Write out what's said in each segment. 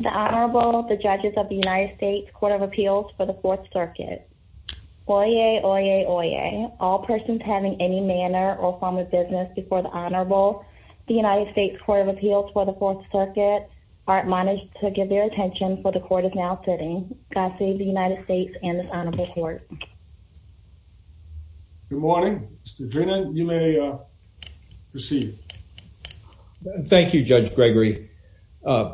The Honorable, the Judges of the United States Court of Appeals for the 4th Circuit. Oyez, oyez, oyez. All persons having any manner or form of business before the Honorable, the United States Court of Appeals for the 4th Circuit are admonished to give their attention for the Court is now sitting. God save the United States and this Honorable Court. Good morning. Mr. Drennan, you may proceed. Thank you, Judge Gregory. My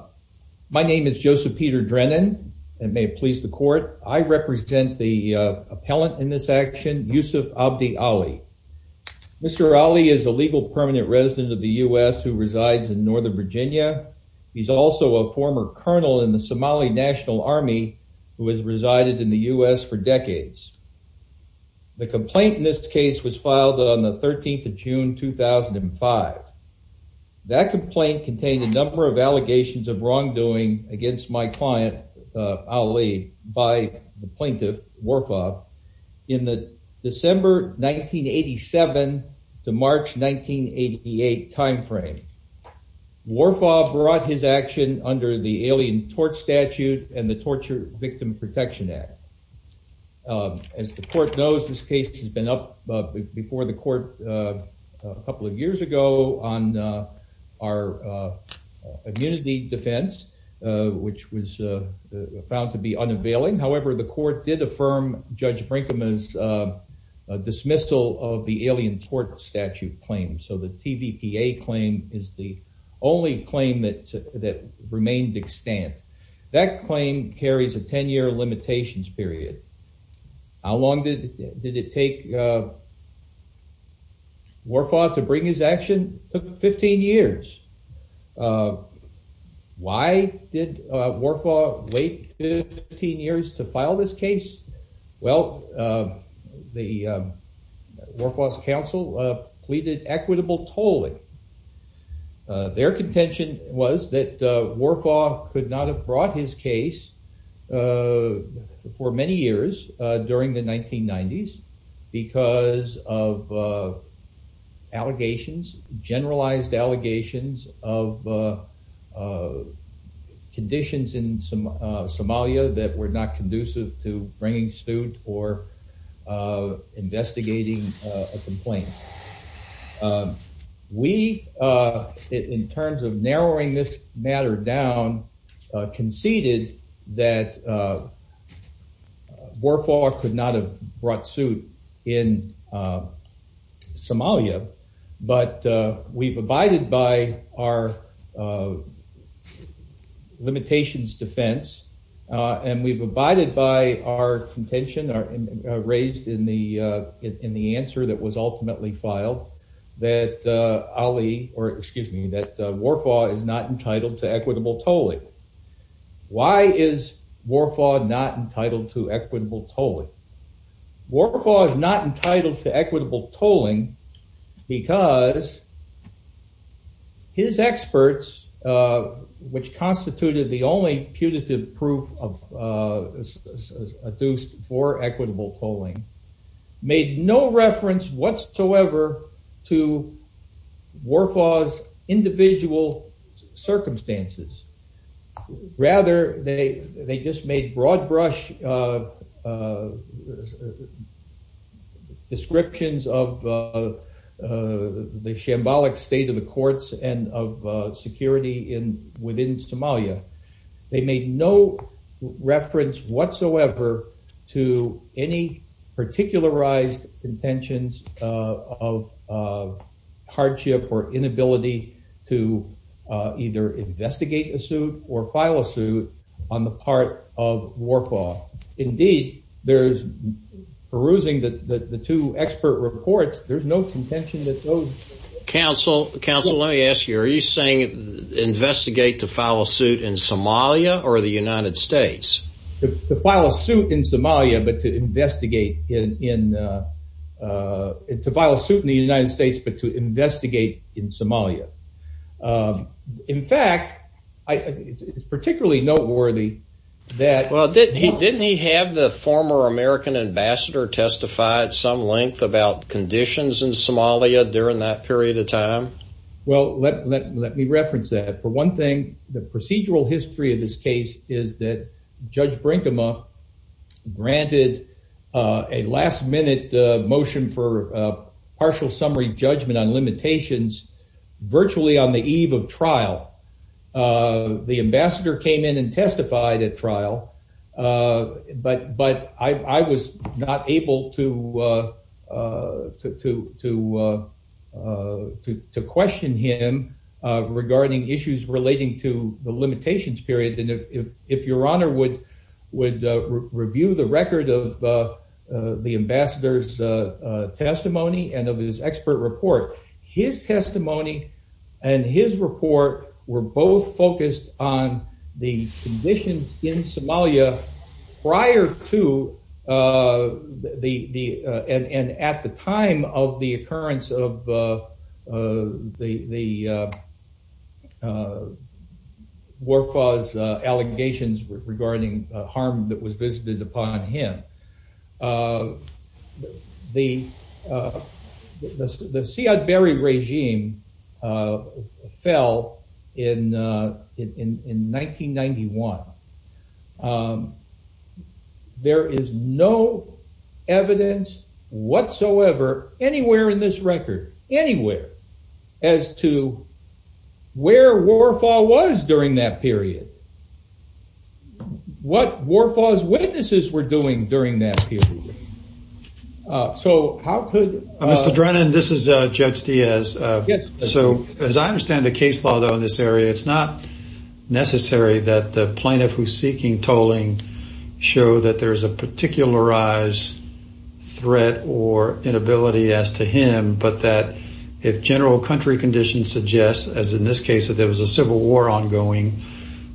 name is Joseph Peter Drennan and may it please the Court. I represent the appellant in this action, Yusuf Abdi Ali. Mr. Ali is a legal permanent resident of the U.S. who resides in Northern Virginia. He's also a former colonel in the Somali National Army who has resided in the U.S. for decades. The complaint in this case was filed on the 13th of June, 2005. That complaint contained a number of allegations of wrongdoing against my client, Ali, by the plaintiff, Warfaa, in the December 1987 to March 1988 timeframe. Warfaa brought his action under the Alien Tort Statute and the Torture Protection Act. As the Court knows, this case has been up before the Court a couple of years ago on our immunity defense, which was found to be unavailing. However, the Court did affirm Judge Brinkman's dismissal of the Alien Tort Statute claim, so the TVPA claim is the only claim that remained extant. That claim carries a 10-year limitations period. How long did it take Warfaa to bring his action? It took 15 years. Why did Warfaa wait 15 years to file this case? Well, the Warfaa's counsel pleaded equitable tolling. Their contention was that Warfaa could not have brought his case for many years during the 1990s because of allegations, generalized allegations of conditions in Somalia that were not conducive to bringing suit or investigating a complaint. We, in terms of narrowing this matter down, conceded that our limitations defense, and we've abided by our contention raised in the answer that was ultimately filed, that Warfaa is not entitled to equitable tolling. Why is Warfaa not entitled to equitable tolling? Because his experts, which constituted the only putative proof of adduced for equitable tolling, made no reference whatsoever to Warfaa's individual circumstances. Rather, they just made broad-brush descriptions of the shambolic state of the courts and of security within Somalia. They made no reference whatsoever to any particularized contentions of hardship or either investigate a suit or file a suit on the part of Warfaa. Indeed, perusing the two expert reports, there's no contention that those... Counsel, let me ask you, are you saying investigate to file a suit in Somalia or the United States? To file a suit in Somalia, but to In fact, it's particularly noteworthy that... Well, didn't he have the former American ambassador testify at some length about conditions in Somalia during that period of time? Well, let me reference that. For one thing, the procedural history of this case is that Judge Brinkema granted a last-minute motion for partial summary judgment on limitations virtually on the eve of trial. The ambassador came in and testified at trial, but I was not able to question him regarding issues relating to the limitations period. If your honor would review the record of the ambassador's testimony and of his expert report, his testimony and his report were both focused on the conditions in Somalia prior to and at the time of the occurrence of the Warfaa's allegations regarding harm that was visited upon him. The Siad Barre regime fell in 1991. There is no evidence whatsoever anywhere in this record, anywhere, as to where Warfaa was during that period. What Warfaa's witnesses were doing during that period. So how could... Mr. Drennan, this is Judge Diaz. So as I understand the case law though in this area, it's not necessary that the plaintiff who's if general country conditions suggest, as in this case, that there was a civil war ongoing,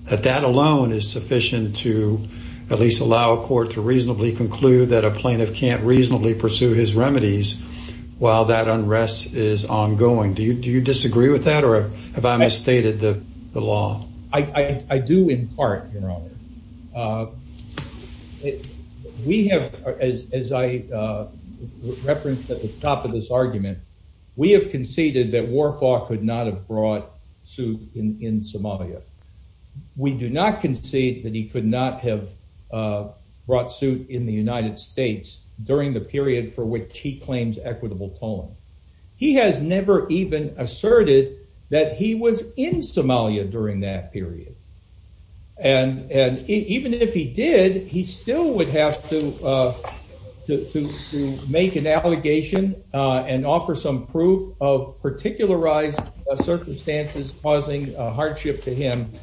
that that alone is sufficient to at least allow a court to reasonably conclude that a plaintiff can't reasonably pursue his remedies while that unrest is ongoing. Do you disagree with that or have I misstated the law? I do, in part, your honor. We have, as I referenced at the top of this argument, we have conceded that Warfaa could not have brought suit in Somalia. We do not concede that he could not have brought suit in the United States during the period for which he claims equitable tolling. He has never even asserted that he was in Somalia during that period. And even if he did, he still would have to make an allegation and offer some proof of particularized circumstances causing hardship to him.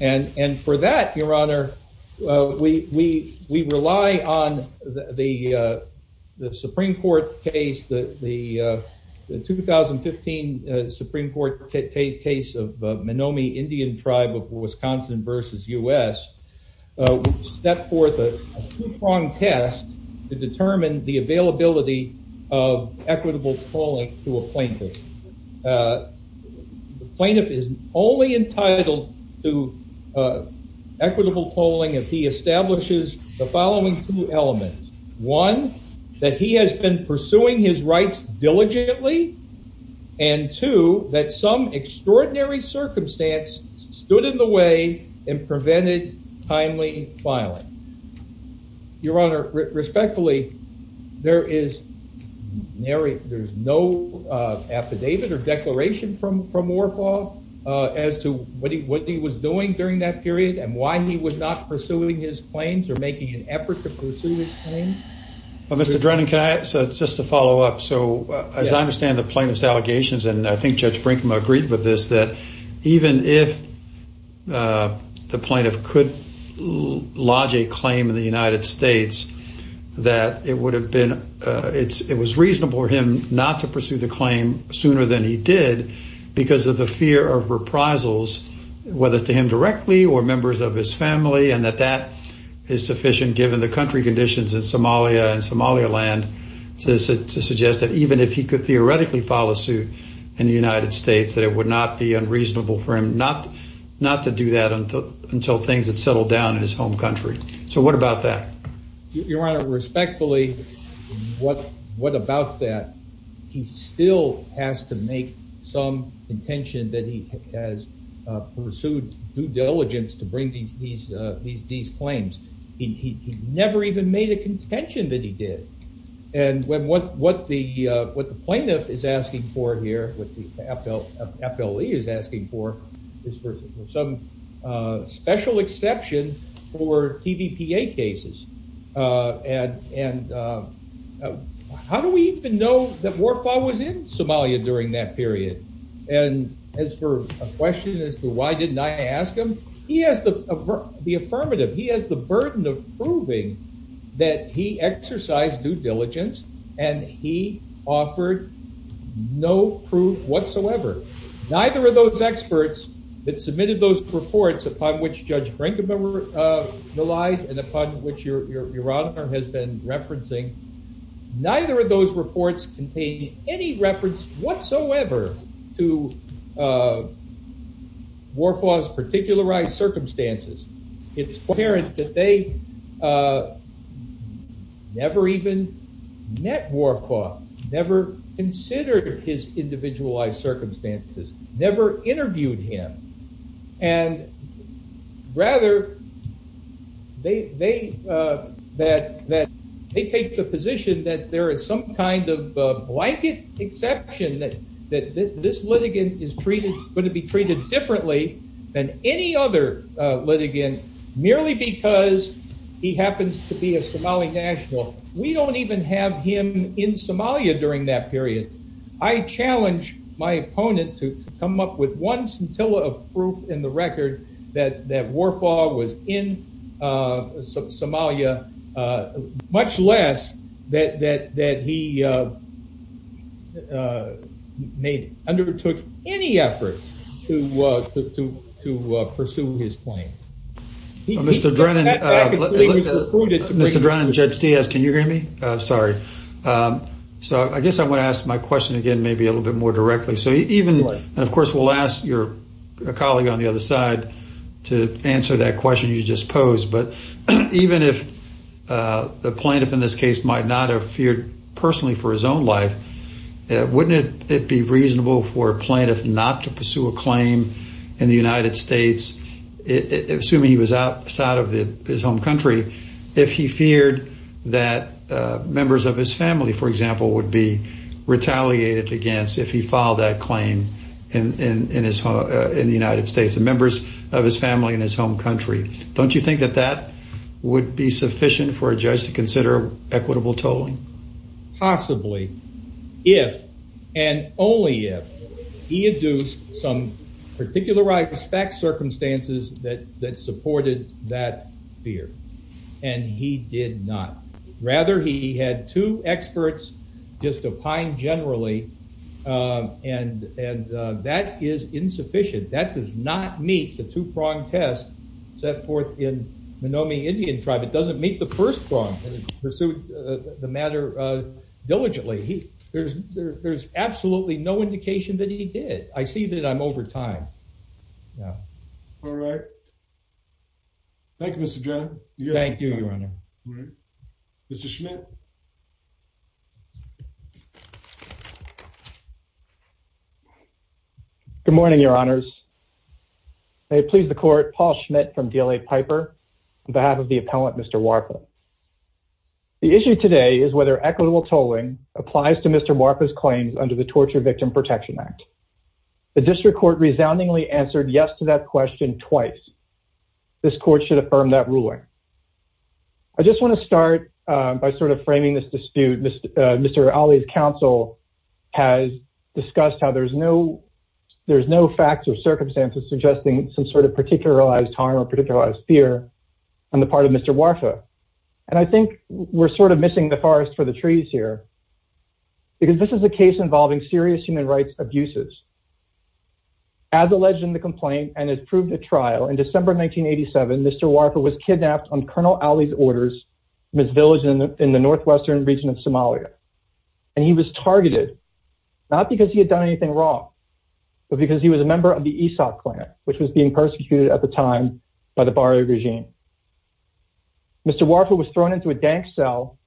And for that, your honor, we rely on the Supreme Court case, the 2015 Supreme Court case of Menomee Indian tribe of Wisconsin versus U.S. which set forth a two-pronged test to determine the availability of equitable tolling to a plaintiff. The plaintiff is only entitled to equitable tolling if he establishes the following two elements. One, that he has been pursuing his rights diligently and two, that some extraordinary circumstance stood in the way and prevented timely filing. Your honor, respectfully, there is no affidavit or declaration from Warfaa as to what he was doing during that period and why he was not pursuing his claims or making an effort to pursue his claims. Well, Mr. Drennan, can I, so just to follow up. So as I understand the plaintiff's allegations, and I think Judge Brinkman agreed with this, that even if the plaintiff could lodge a claim in the United States, that it would have been, it was reasonable for him not to pursue the claim sooner than he did because of the fear of reprisals, whether to him directly or members of his family, and that that is sufficient given the country conditions in Somalia and Somaliland to suggest that even if he could theoretically file a suit in the United States, that it would not be unreasonable for him not to do that until things had settled down in his home country. So what about that? Your honor, respectfully, what about that? He still has to make some contention that he has pursued due diligence to bring these claims. He never even made a contention that he did. And what the plaintiff is asking for here, what the FLE is asking for, is for some special exception for TVPA cases. And how do we even know that Warfa was in Somalia during that period? And as for a question as to why didn't I ask him, he has the affirmative. He has the burden of proving that he exercised due diligence and he offered no proof whatsoever. Neither of those reports contain any reference whatsoever to Warfa's particularized circumstances. It's apparent that they never even met Warfa, never considered his individualized circumstances, never interviewed him. And rather, they take the position that there is some kind of blanket exception that this litigant is going to be treated differently than any other litigant, merely because he happens to be a Somali national. We don't even have him in Somalia during that come up with one scintilla of proof in the record that Warfa was in Somalia, much less that he undertook any effort to pursue his claim. Mr. Drennan, Judge Diaz, can you hear me? Sorry. So I guess I want to ask my question again, maybe a little bit more directly. So even, and of course, we'll ask your colleague on the other side to answer that question you just posed. But even if the plaintiff in this case might not have feared personally for his own life, wouldn't it be reasonable for a plaintiff not to pursue a claim in the United States, assuming he was outside of his home country, if he feared that members of his family, for example, would be retaliated against if he filed that claim in the United States, members of his family in his home country? Don't you think that that would be sufficient for a judge to consider equitable tolling? Possibly, if and only if he had used some particularized circumstances that supported that fear. And he did not. Rather, he had two experts just opined generally, and that is insufficient. That does not meet the two-pronged test set forth in Menomee Indian tribe. It doesn't meet the first prong, and it pursued the matter diligently. There's absolutely no indication that he did. I see that I'm over time. All right. Thank you, Mr. John. Thank you, Your Honor. Mr. Schmidt. Good morning, Your Honors. May it please the court, Paul Schmidt from DLA Piper, on behalf of the appellant, Mr. Warfel. The issue today is whether equitable tolling applies to Mr. Warfel's claims under the Torture Victim Protection Act. The district court resoundingly answered yes to that question twice. This court should affirm that ruling. I just want to start by sort of framing this dispute. Mr. Ali's counsel has discussed how there's no facts or circumstances suggesting some sort of particularized harm or particularized fear on the part of Mr. Warfel. And I think we're sort of missing the forest for the trees here. Because this is a case involving serious human rights abuses. As alleged in the complaint and as proved at trial, in December 1987, Mr. Warfel was kidnapped on Colonel Ali's orders from his village in the northwestern region of Somalia. And he was targeted, not because he had done anything wrong, but because he was a member of the Ishaq clan, which was being persecuted at the time by the Baryu regime. Mr. Warfel was thrown into a dank cell,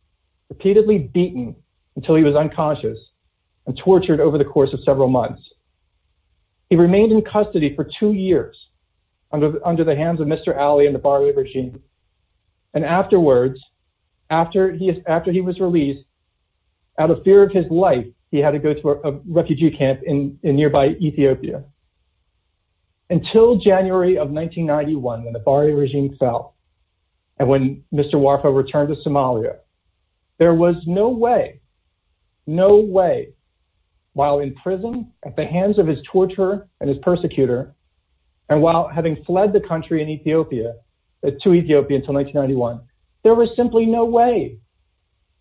repeatedly beaten until he was unconscious and tortured over the course of several months. He remained in custody for two years under the hands of Mr. Ali and the Baryu regime. And afterwards, after he was released, out of fear of his life, he had to go to a refugee camp in nearby Ethiopia. Until January of 1991, when the Baryu regime fell, and when Mr. Warfel returned to Somalia, there was no way, no way, while in prison, at the hands of his torturer and his persecutor, and while having fled the country to Ethiopia until 1991, there was simply no way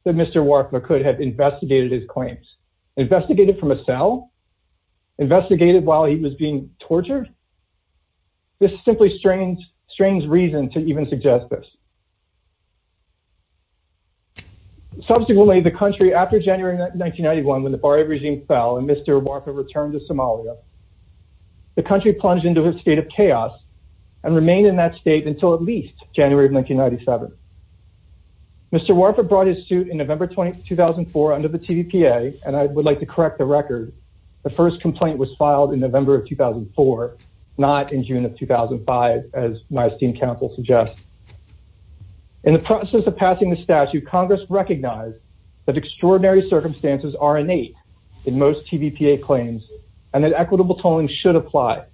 that Mr. Warfel could have investigated his claims. Investigated from a cell? Investigated while he was being tortured? This simply strains reason to even suggest this. Subsequently, the country, after January 1991, when the Baryu regime fell and Mr. Warfel returned to Somalia, the country plunged into a state of chaos and remained in that state until at least January of 1997. Mr. Warfel brought his suit in November 2004 under the TVPA, and I would like to correct the record. The first complaint was filed in November of 2004, not in June of 2005, as my esteemed counsel suggests. In the process of passing the statute, Congress recognized that extraordinary circumstances are innate in most TVPA claims and that equitable tolling should apply.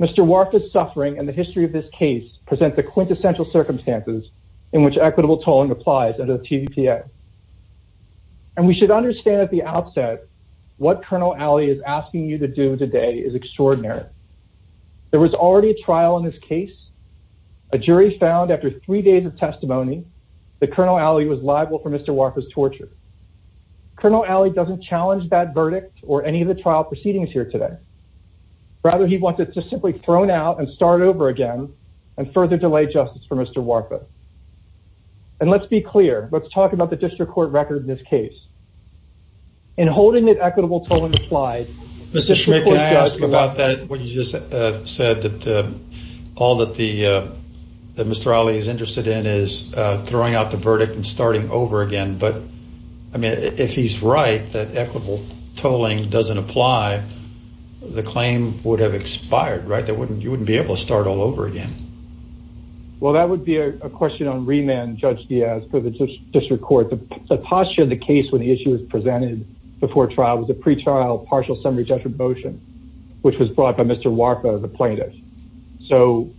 Mr. Warfel's suffering and the history of this case present the quintessential circumstances in which equitable tolling applies under the TVPA, and we should understand at the outset what Colonel Alley is asking you to do today is extraordinary. There was already a trial in this case. A jury found after three days of testimony that Colonel Alley was liable for Mr. Warfel's torture. Colonel Alley doesn't challenge that verdict or any of the trial proceedings here today. Rather, he wants it to simply thrown out and start over again and further delay justice for Mr. Warfel, and let's be clear. Let's talk about the district court record in this case. In holding that equitable tolling applied... Mr. Schmidt, can I ask about that? What you just said that all that Mr. Alley is interested in is throwing out the verdict and starting over again, but I mean if he's right that equitable tolling doesn't apply, the claim would have expired, right? You wouldn't be able to start all over again. Well, that would be a question on remand, Judge Diaz, for the district court. The posture of the case when the issue was presented before trial was a pre-trial partial summary judgment motion, which was brought by Mr. Warfel, the plaintiff. So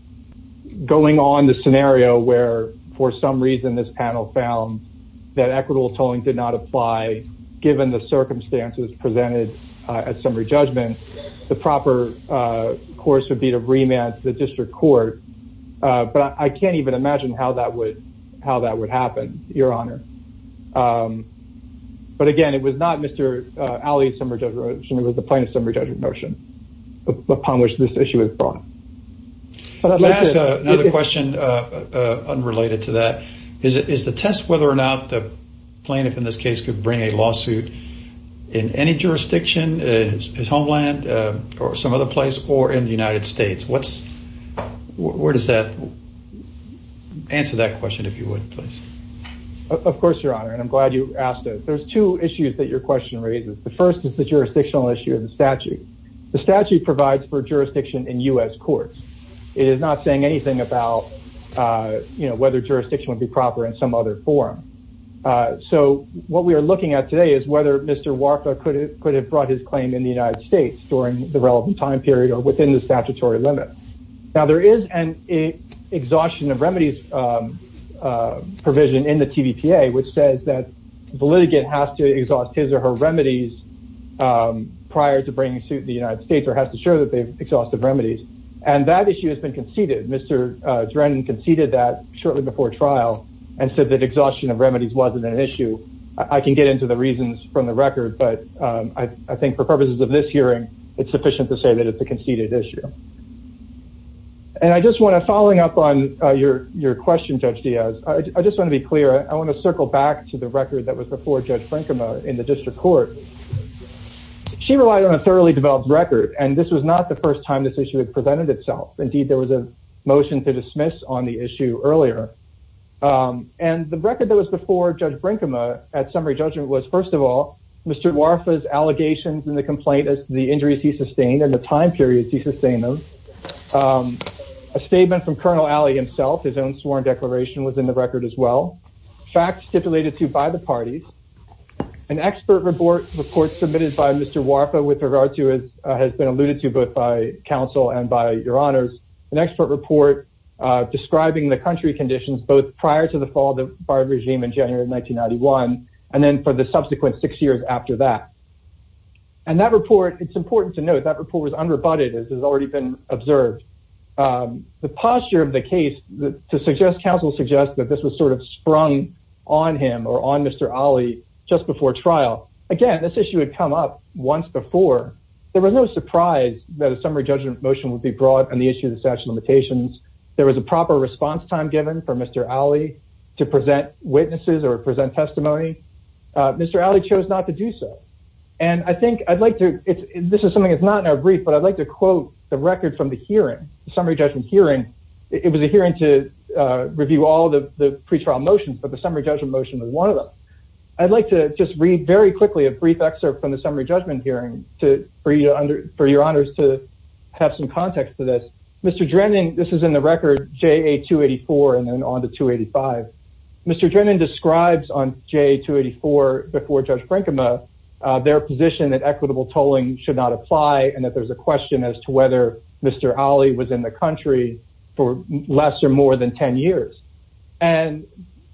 going on the scenario where for some reason this panel found that equitable tolling did not apply given the circumstances presented at summary judgment, the proper course would be to remand the district court, but I can't even imagine how that would happen, Your Honor. But again, it was not Mr. Alley's summary judgment motion. It was the plaintiff's summary judgment motion upon which this issue was brought. Can I ask another question unrelated to that? Is the test whether or not the plaintiff in this case could bring a lawsuit in any jurisdiction, his homeland or some other place, or in the United States? Where does that answer that question, if you would, please? Of course, Your Honor, and I'm glad you asked it. There's two issues that your question raises. The first is the jurisdictional issue of the statute. The statute provides for jurisdiction in U.S. courts. It is not saying anything about whether jurisdiction would be proper in some other form. So what we are looking at today is whether Mr. Warka could have brought his claim in the United States during the relevant time period or within the statutory limit. Now, there is an exhaustion of remedies provision in the TVPA which says that the litigant has to exhaust his or her remedies prior to bringing suit the United States or has to show that they've exhausted remedies, and that issue has been conceded. Mr. Drennan conceded that shortly before trial and said exhaustion of remedies wasn't an issue. I can get into the reasons from the record, but I think for purposes of this hearing, it's sufficient to say that it's a conceded issue. And I just want to, following up on your question, Judge Diaz, I just want to be clear. I want to circle back to the record that was before Judge Frankema in the district court. She relied on a thoroughly developed record, and this was not the first time this issue had presented itself. Indeed, there was a motion to dismiss on the issue earlier. And the record that was before Judge Frankema at summary judgment was, first of all, Mr. Warka's allegations in the complaint as the injuries he sustained and the time periods he sustained them. A statement from Colonel Alley himself, his own sworn declaration was in the record as well. Facts stipulated to by the parties. An expert report submitted by Mr. Warka with regard to it has been alluded to both by counsel and by your honors. An expert report describing the country conditions both prior to the fall of the barb regime in January of 1991, and then for the subsequent six years after that. And that report, it's important to note, that report was unrebutted as has already been observed. The posture of the case to suggest counsel suggests that this was sort of sprung on him or on Mr. Alley just before trial. Again, this issue had come up once before. There was no surprise that a summary judgment motion would be brought on the issue of the statute of limitations. There was a proper response time given for Mr. Alley to present witnesses or present testimony. Mr. Alley chose not to do so. And I think I'd like to, this is something that's not in our brief, but I'd like to quote the record from the hearing, the summary judgment hearing. It was a hearing to review all the pre-trial motions, but the summary judgment motion was one of them. I'd like to just read very quickly a brief excerpt from the summary judgment hearing for your honors to have some context to this. Mr. Drennan, this is in the record JA 284 and then on to 285. Mr. Drennan describes on JA 284 before Judge Frankema, their position that equitable tolling should not apply and that there's a question as to whether Mr. Alley was in the country for less or more than 10 years. And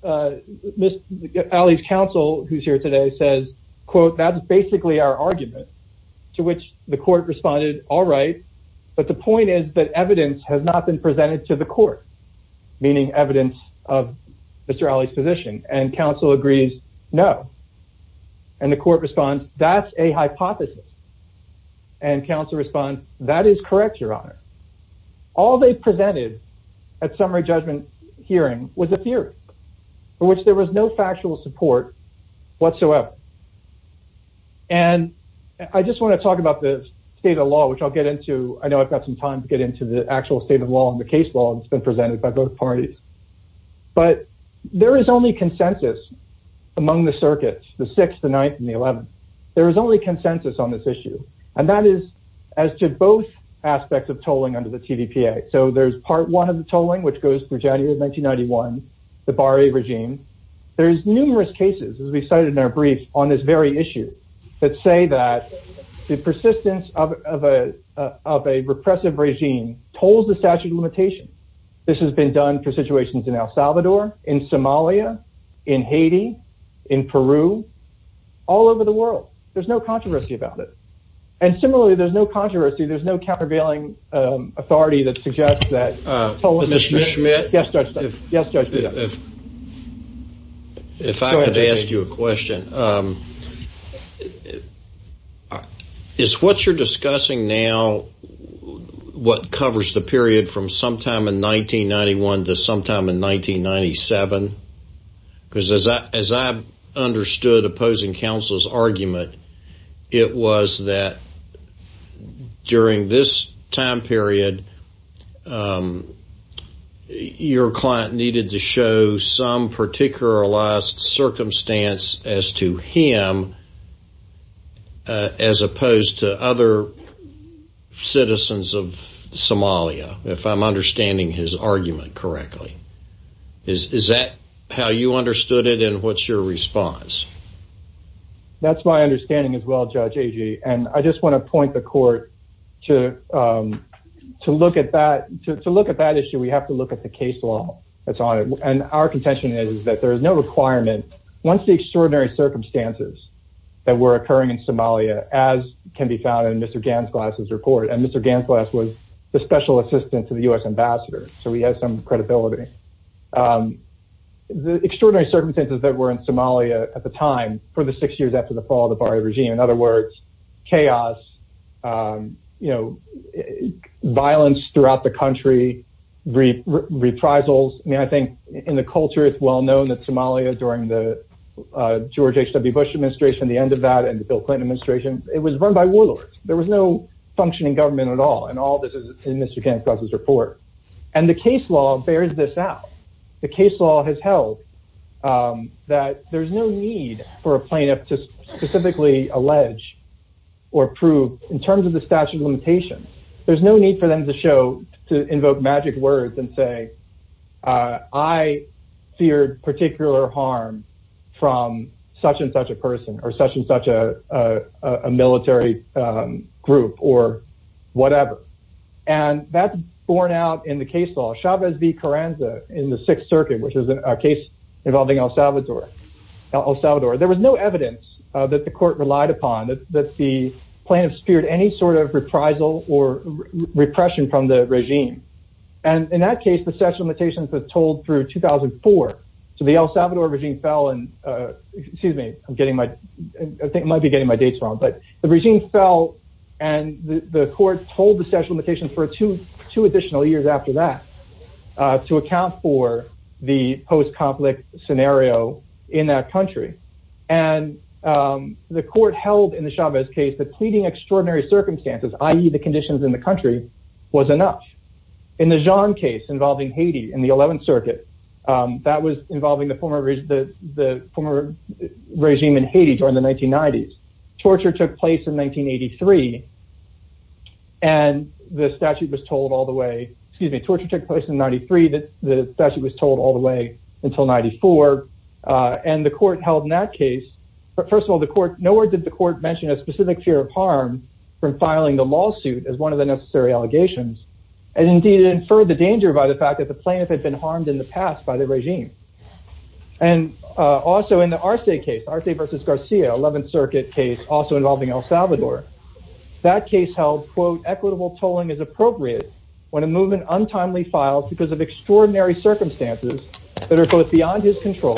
Mr. Alley's counsel who's here today says, quote, that's basically our argument to which the court responded. All right. But the point is that evidence has not been presented to the court, meaning evidence of Mr. Alley's position and counsel agrees. No. And the court responds. That's a hypothesis. And counsel responds. That is correct. Your honor. All they presented at summary judgment hearing was a theory for which there was no factual support whatsoever. And I just want to talk about the state of law, which I'll get into. I know I've got some time to get into the actual state of law and the case law that's been presented by both parties, but there is only consensus among the circuits, the sixth, the ninth and the eleventh. There is only consensus on this issue. And that is as to both aspects of tolling under the TVPA. So there's part one of the tolling, which goes for January of 1991, the bar a regime. There's numerous cases, as we cited in our brief on this very issue that say that the persistence of a repressive regime told the statute of limitations. This has been done for situations in El Salvador, in Somalia, in Haiti, in Peru, all over the world. There's no controversy about it. And similarly, there's no controversy. There's no countervailing authority that suggests that. Mr. Schmidt, if I could ask you a question. Is what you're discussing now what covers the period from sometime in 1991 to sometime in 1997? Because as I understood opposing counsel's argument, it was that during this time period, your client needed to show some particular circumstance as to him, as opposed to other citizens of Somalia, if I'm understanding his argument correctly. Is that how you understood it? And what's your response? That's my understanding as well, Judge Agee. And I just want to point the court to look at that issue. We have to look at the case law that's on it. And our contention is that there is no requirement, once the extraordinary circumstances that were occurring in Somalia, as can be found in Mr. Gansglass's report. And Mr. Gansglass was the special assistant to the U.S. ambassador, so he has some credibility. The extraordinary circumstances that were in Somalia at the time for the six years after the fall of the Bari regime, in other words, chaos, violence throughout the country, reprisals. I think in the culture, it's well known that Somalia during the George H. W. Bush administration, the end of that and the Bill Clinton administration, it was run by warlords. There was no functioning government at all. And all this is in Mr. Gansglass's report. And the case law bears this out. The case law has held that there's no need for a plaintiff to specifically allege or prove in terms of the statute of limitations. There's no need for them to show, to invoke magic words and say, I feared particular harm from such and such a person or such and such a military group or whatever. And that's borne out in the case law, Chavez v. Carranza in the Sixth Circuit, which is a case involving El Salvador. There was no evidence that the court relied upon that the plaintiff speared any sort of reprisal or repression from the regime. And in that case, the statute of limitations was told through 2004. So the El Salvador regime fell and, excuse me, I'm getting my, I think I might be getting my dates wrong, but the regime fell and the court told the statute of limitations for two additional years after that to account for the post-conflict scenario in that country. And the court held in the Chavez case that pleading extraordinary circumstances, i.e. the conditions in the country was enough. In the Jean case regime in Haiti during the 1990s, torture took place in 1983. And the statute was told all the way, excuse me, torture took place in 93. The statute was told all the way until 94. And the court held in that case, first of all, the court, nowhere did the court mention a specific fear of harm from filing the lawsuit as one of the necessary allegations. And indeed it inferred the danger by the fact that the plaintiff had been harmed in the past by the regime. And also in the Arce case, Arce versus Garcia, 11th circuit case, also involving El Salvador, that case held, quote, equitable tolling is appropriate when a movement untimely files because of extraordinary circumstances that are both beyond his control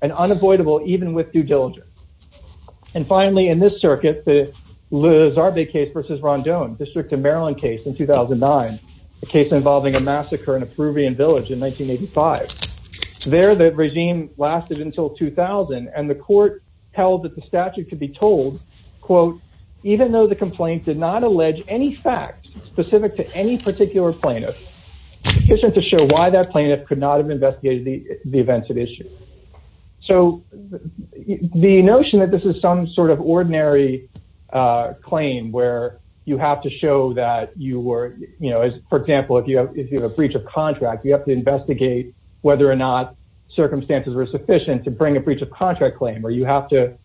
and unavoidable, even with due diligence. And finally, in this circuit, the Liz Arbe case versus Rondon, District of Maryland case in 2009, a case involving a massacre in a Peruvian village in 1985. There the regime lasted until 2000 and the court held that the statute could be told, quote, even though the complaint did not allege any facts specific to any particular plaintiff, sufficient to show why that plaintiff could not have investigated the events at issue. So the notion that this is some sort of ordinary claim where you have to show that you were, you know, as for example, if you have, if you have a breach of contract, you have to investigate whether or not circumstances were sufficient to bring a breach of contract claim, or you have to,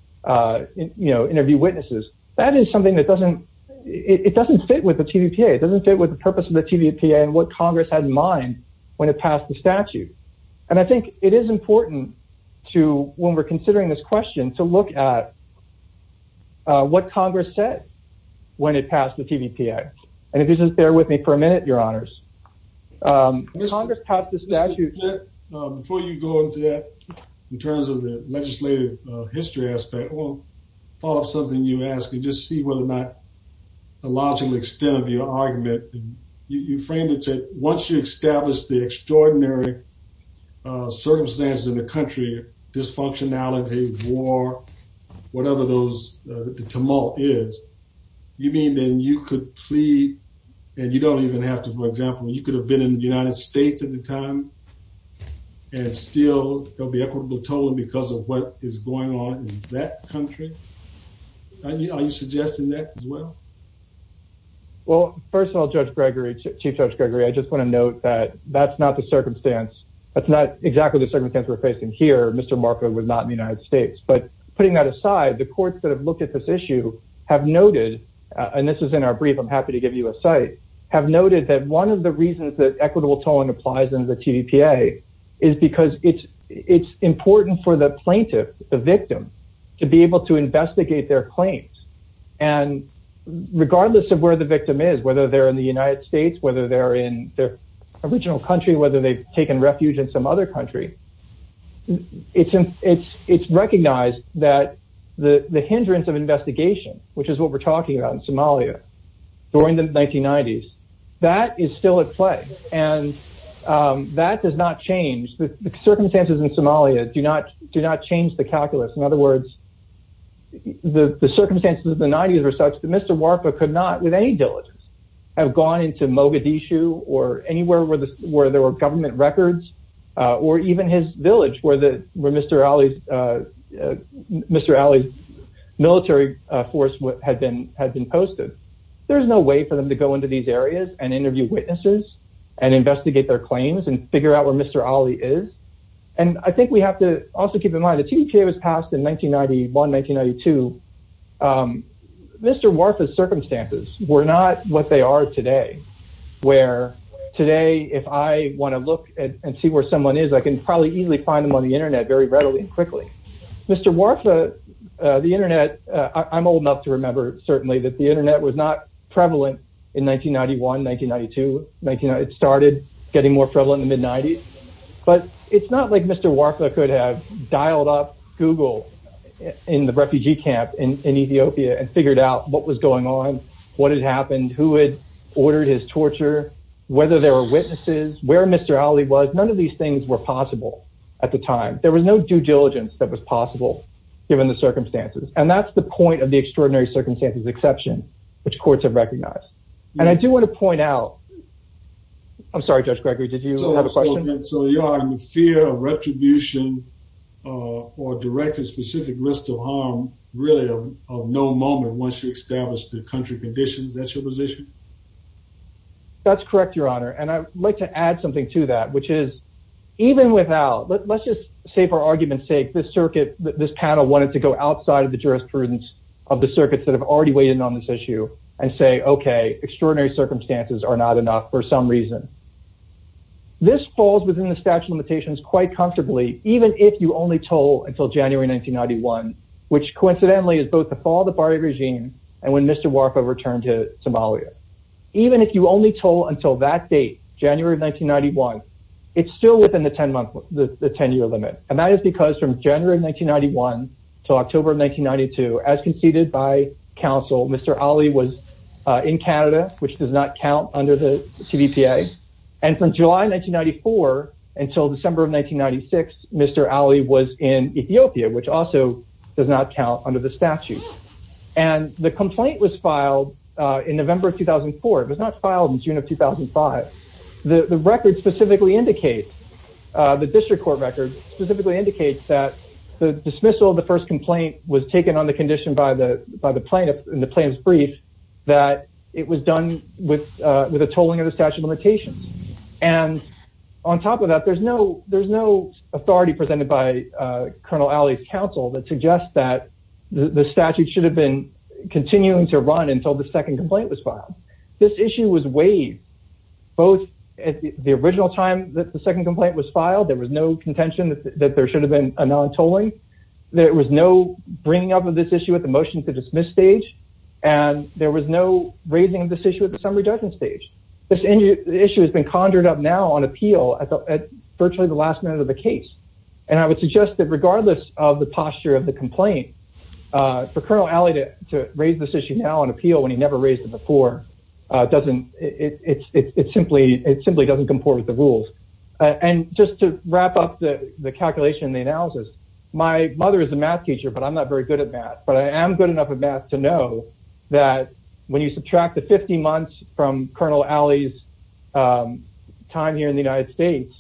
you know, interview witnesses. That is something that doesn't, it doesn't fit with the TVPA. It doesn't fit with the purpose of the TVPA and what Congress had in mind when it passed the statute. And I think it is important to, when we're considering this question, to look at what Congress said when it passed the TVPA. And if you just bear with me for a minute, your honors, Congress passed the statute. Before you go into that, in terms of the legislative history aspect, I want to follow up something you asked and just see whether or not the logical extent of your argument, you framed it to, once you establish the extraordinary circumstances in the country, dysfunctionality, war, whatever those, the tumult is, you mean then you could plead, and you don't even have to, for example, you could have been in the United States at the time, and still there'll be equitable tolling because of what is going on in that country? Are you suggesting that as well? Well, first of all, Judge Gregory, Chief Judge Gregory, I just want to note that that's not the circumstance. That's not exactly the circumstance we're facing here. Mr. Marco was not in the United States, but putting that aside, the courts that have looked at this issue have noted, and this is in our brief, I'm happy to give you a site, have noted that one of the reasons that equitable tolling applies in the TVPA is because it's important for the plaintiff, the victim, to be able to investigate their claims. And regardless of where the victim is, whether they're in the United States, whether they're in their original country, whether they've recognized that the hindrance of investigation, which is what we're talking about in Somalia during the 1990s, that is still at play, and that does not change. The circumstances in Somalia do not change the calculus. In other words, the circumstances of the 90s were such that Mr. Warpa could not, with any diligence, have gone into Mogadishu or anywhere where there were government records, or even his village, where Mr. Ali's military force had been posted. There's no way for them to go into these areas and interview witnesses and investigate their claims and figure out where Mr. Ali is. And I think we have to also keep in mind, the TVPA was passed in 1991, 1992. Mr. Warpa's circumstances were not what they are today, where today, if I want to look and see where someone is, I can probably easily find them on the internet very readily and quickly. Mr. Warpa, the internet, I'm old enough to remember, certainly, that the internet was not prevalent in 1991, 1992. It started getting more prevalent in the mid-90s. But it's not like Mr. Warpa could have dialed up Google in the refugee camp in Ethiopia and figured out what was going on, what had happened, who had ordered his torture, whether there were witnesses, where Mr. Ali was. None of these things were possible at the time. There was no due diligence that was possible, given the circumstances. And that's the point of the extraordinary circumstances exception, which courts have recognized. And I do want to point out, I'm sorry, Judge Gregory, did you have a question? So you are in fear of retribution or directed specific risks of harm, really, of no moment once you establish the country that's your position? That's correct, Your Honor. And I'd like to add something to that, which is, even without, let's just say for argument's sake, this circuit, this panel wanted to go outside of the jurisprudence of the circuits that have already weighed in on this issue and say, okay, extraordinary circumstances are not enough for some reason. This falls within the statute of limitations quite comfortably, even if you only told until January 1991, which coincidentally is the fall of the Bari regime and when Mr. Warko returned to Somalia. Even if you only told until that date, January of 1991, it's still within the 10-year limit. And that is because from January of 1991 to October of 1992, as conceded by counsel, Mr. Ali was in Canada, which does not count under the TVPA. And from July 1994 until December of 1996, Mr. Ali was in Ethiopia, which also does not count under the statute. And the complaint was filed in November of 2004. It was not filed in June of 2005. The record specifically indicates, the district court record specifically indicates that the dismissal of the first complaint was taken on the condition by the plaintiff in the plaintiff's brief that it was done with a tolling of the statute of limitations. And on top of that, there's no authority presented by Colonel Ali's counsel that suggests that the statute should have been continuing to run until the second complaint was filed. This issue was waived, both at the original time that the second complaint was filed, there was no contention that there should have been a non-tolling, there was no bringing up of this issue at the motion to dismiss stage, and there was no raising of this issue at the summary judgment stage. This issue has been conjured up now on appeal at virtually the last minute of the case. And I would suggest that regardless of the posture of the complaint, for Colonel Ali to raise this issue now on appeal when he never raised it before, it simply doesn't comport with the rules. And just to wrap up the calculation and the analysis, my mother is a math teacher, but I'm not very good at math, but I am good enough at math to know that when you subtract the 50 months from Colonel Ali's time here in the United States,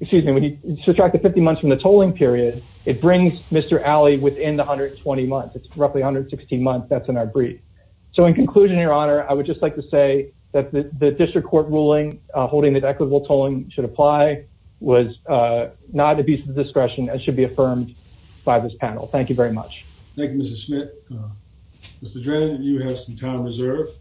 excuse me, when you subtract the 50 months from the tolling period, it brings Mr. Ali within the 120 months, it's roughly 116 months, that's in our brief. So in conclusion, your honor, I would just like to say that the district court ruling holding that equitable tolling should apply was not at the discretion that should be affirmed by this panel. Thank you very much. Thank you, Mr. Schmidt. Mr. Dren, you have some time reserved.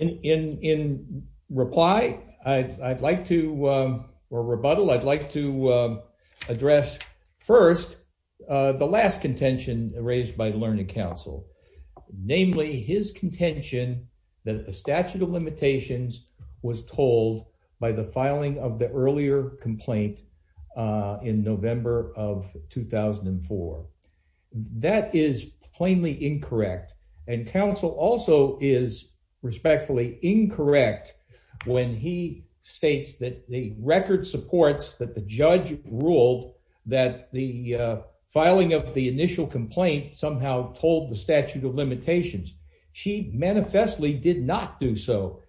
In reply, I'd like to, or rebuttal, I'd like to address first the last contention raised by the Learning Council, namely his contention that the statute of limitations was tolled by the filing of the earlier complaint in November of 2004. That is plainly incorrect. And counsel also is respectfully incorrect when he states that the record supports that the judge ruled that the filing of the initial complaint somehow tolled the statute of limitations. She manifestly did not do so.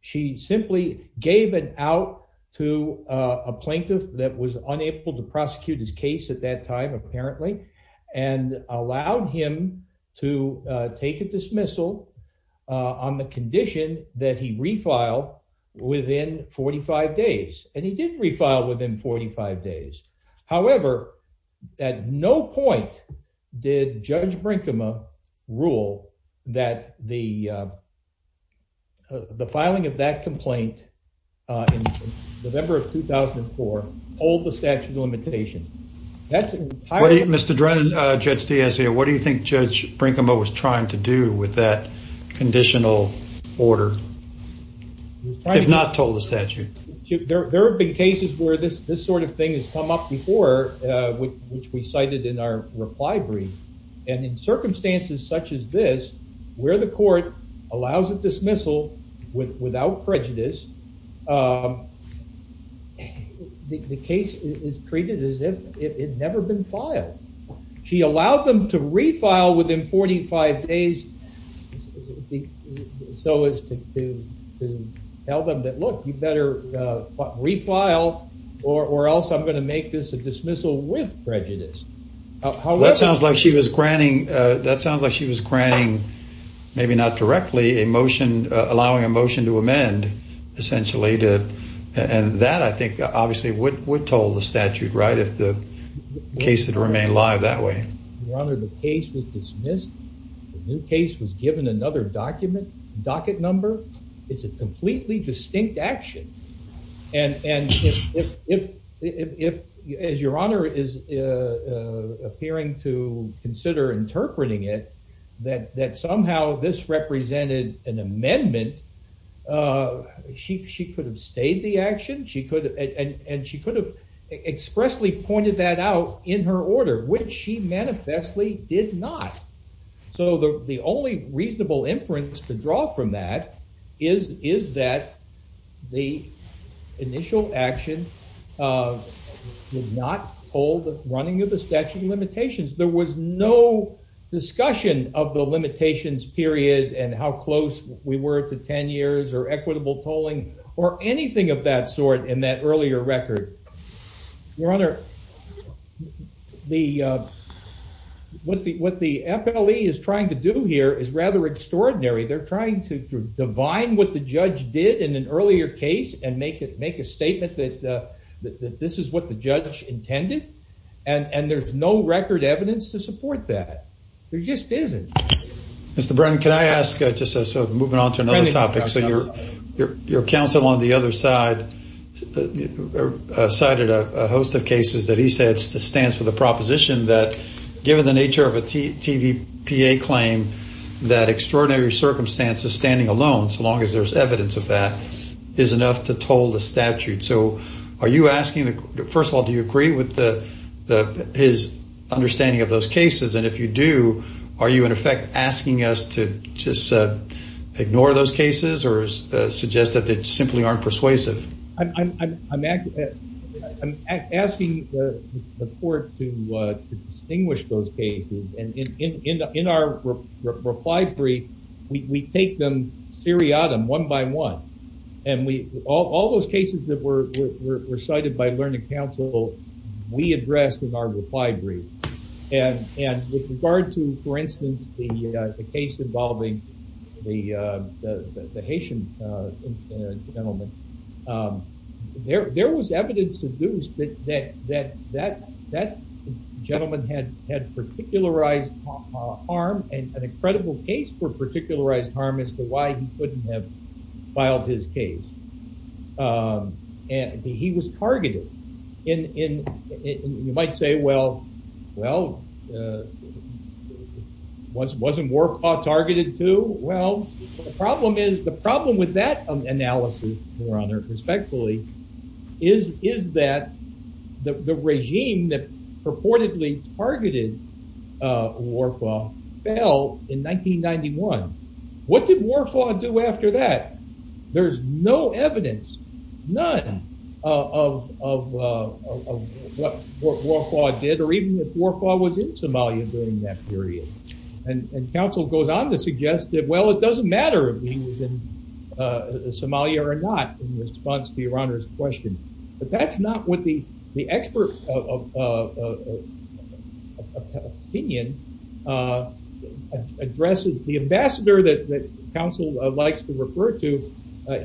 She simply gave it out to a plaintiff that was unable to prosecute his case at that time, apparently, and allowed him to take a dismissal on the condition that he refiled within 45 days. And he did refile within 45 days. However, at no point did Judge Brinkema rule that the filing of that complaint in November of 2004 tolled the statute of limitations. That's entirely... Mr. Dren, Judge Diaz here, what do you think Judge Brinkema was trying to do with that conditional order, if not toll the statute? There have been cases where this sort of thing has come up before, which we cited in our reply brief. And in circumstances such as this, where the court allows a dismissal without prejudice, the case is treated as if it had never been filed. She allowed them to refile within 45 days so as to tell them that, look, you better refile or else I'm going to make this a dismissal with maybe not directly allowing a motion to amend, essentially. And that, I think, obviously would toll the statute, right, if the case had remained alive that way. Your Honor, the case was dismissed. The new case was given another docket number. It's a completely distinct action. And if, as Your Honor is appearing to consider interpreting it, that somehow this represented an amendment, she could have stayed the action, and she could have expressly pointed that out in her order, which she manifestly did not. So the only reasonable inference to draw from that is that the initial action did not toll the running of the statute of limitations. There was no discussion of the limitations period and how close we were to 10 years or equitable tolling or anything of that sort in that earlier record. Your Honor, what the FLE is trying to do here is extraordinary. They're trying to divine what the judge did in an earlier case and make a statement that this is what the judge intended. And there's no record evidence to support that. There just isn't. Mr. Brennan, can I ask, just moving on to another topic, so your counsel on the other side cited a host of cases that he said stands for the proposition that given the nature of a TVPA claim that extraordinary circumstances standing alone, so long as there's evidence of that, is enough to toll the statute. So are you asking, first of all, do you agree with his understanding of those cases? And if you do, are you in effect asking us to just ignore those cases or suggest that they simply aren't persuasive? I'm asking the court to distinguish those cases. And in our reply brief, we take them seriatim, one by one. And all those cases that were recited by learning counsel, we addressed in our reply brief. And with regard to, for instance, the case involving the Haitian gentleman, there was evidence that that gentleman had particularized harm and an incredible case for particularized harm as to why he couldn't have filed his case. And he was targeted. And you might say, well, wasn't Warpaw targeted too? Well, the problem with that analysis, your honor, respectfully, is that the regime that Warpaw fell in 1991. What did Warpaw do after that? There's no evidence, none of what Warpaw did or even if Warpaw was in Somalia during that period. And counsel goes on to suggest that, well, it doesn't matter if he was in Somalia or not in response to your honor's question. But that's not what the expert opinion addresses. The ambassador that counsel likes to refer to,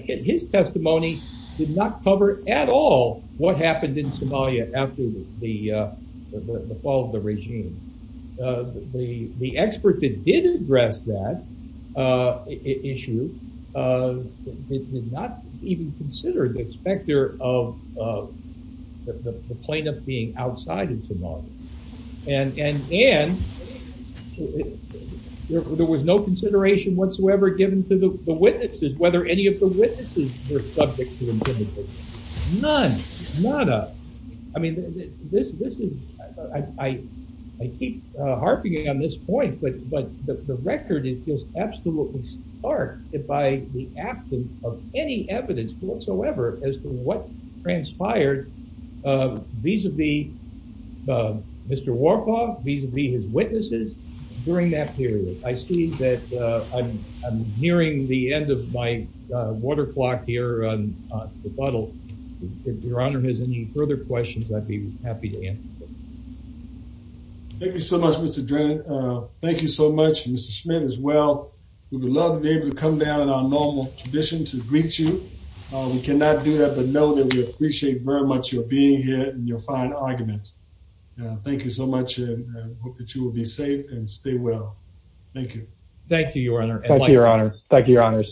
his testimony did not cover at all what happened in Somalia after the fall of the regime. The expert that did address that issue did not even consider the specter of the plaintiff being outside of Somalia. And there was no consideration whatsoever given to the witnesses, whether any of the witnesses were subject to intimidation. None, nada. I mean, this is, I keep harping on this point, but the record is just absolutely stark by the absence of any evidence whatsoever as to what transpired vis-a-vis Mr. Warpaw, vis-a-vis his witnesses during that period. I see that I'm nearing the end of my water clock here on the questions. I'd be happy to answer. Thank you so much, Mr. Drennan. Thank you so much, Mr. Schmidt as well. We would love to be able to come down in our normal tradition to greet you. We cannot do that, but know that we appreciate very much your being here and your fine argument. Thank you so much and hope that you will be safe and stay well. Thank you. Thank you, your honor. Thank you, your honor. Thank you, your honors.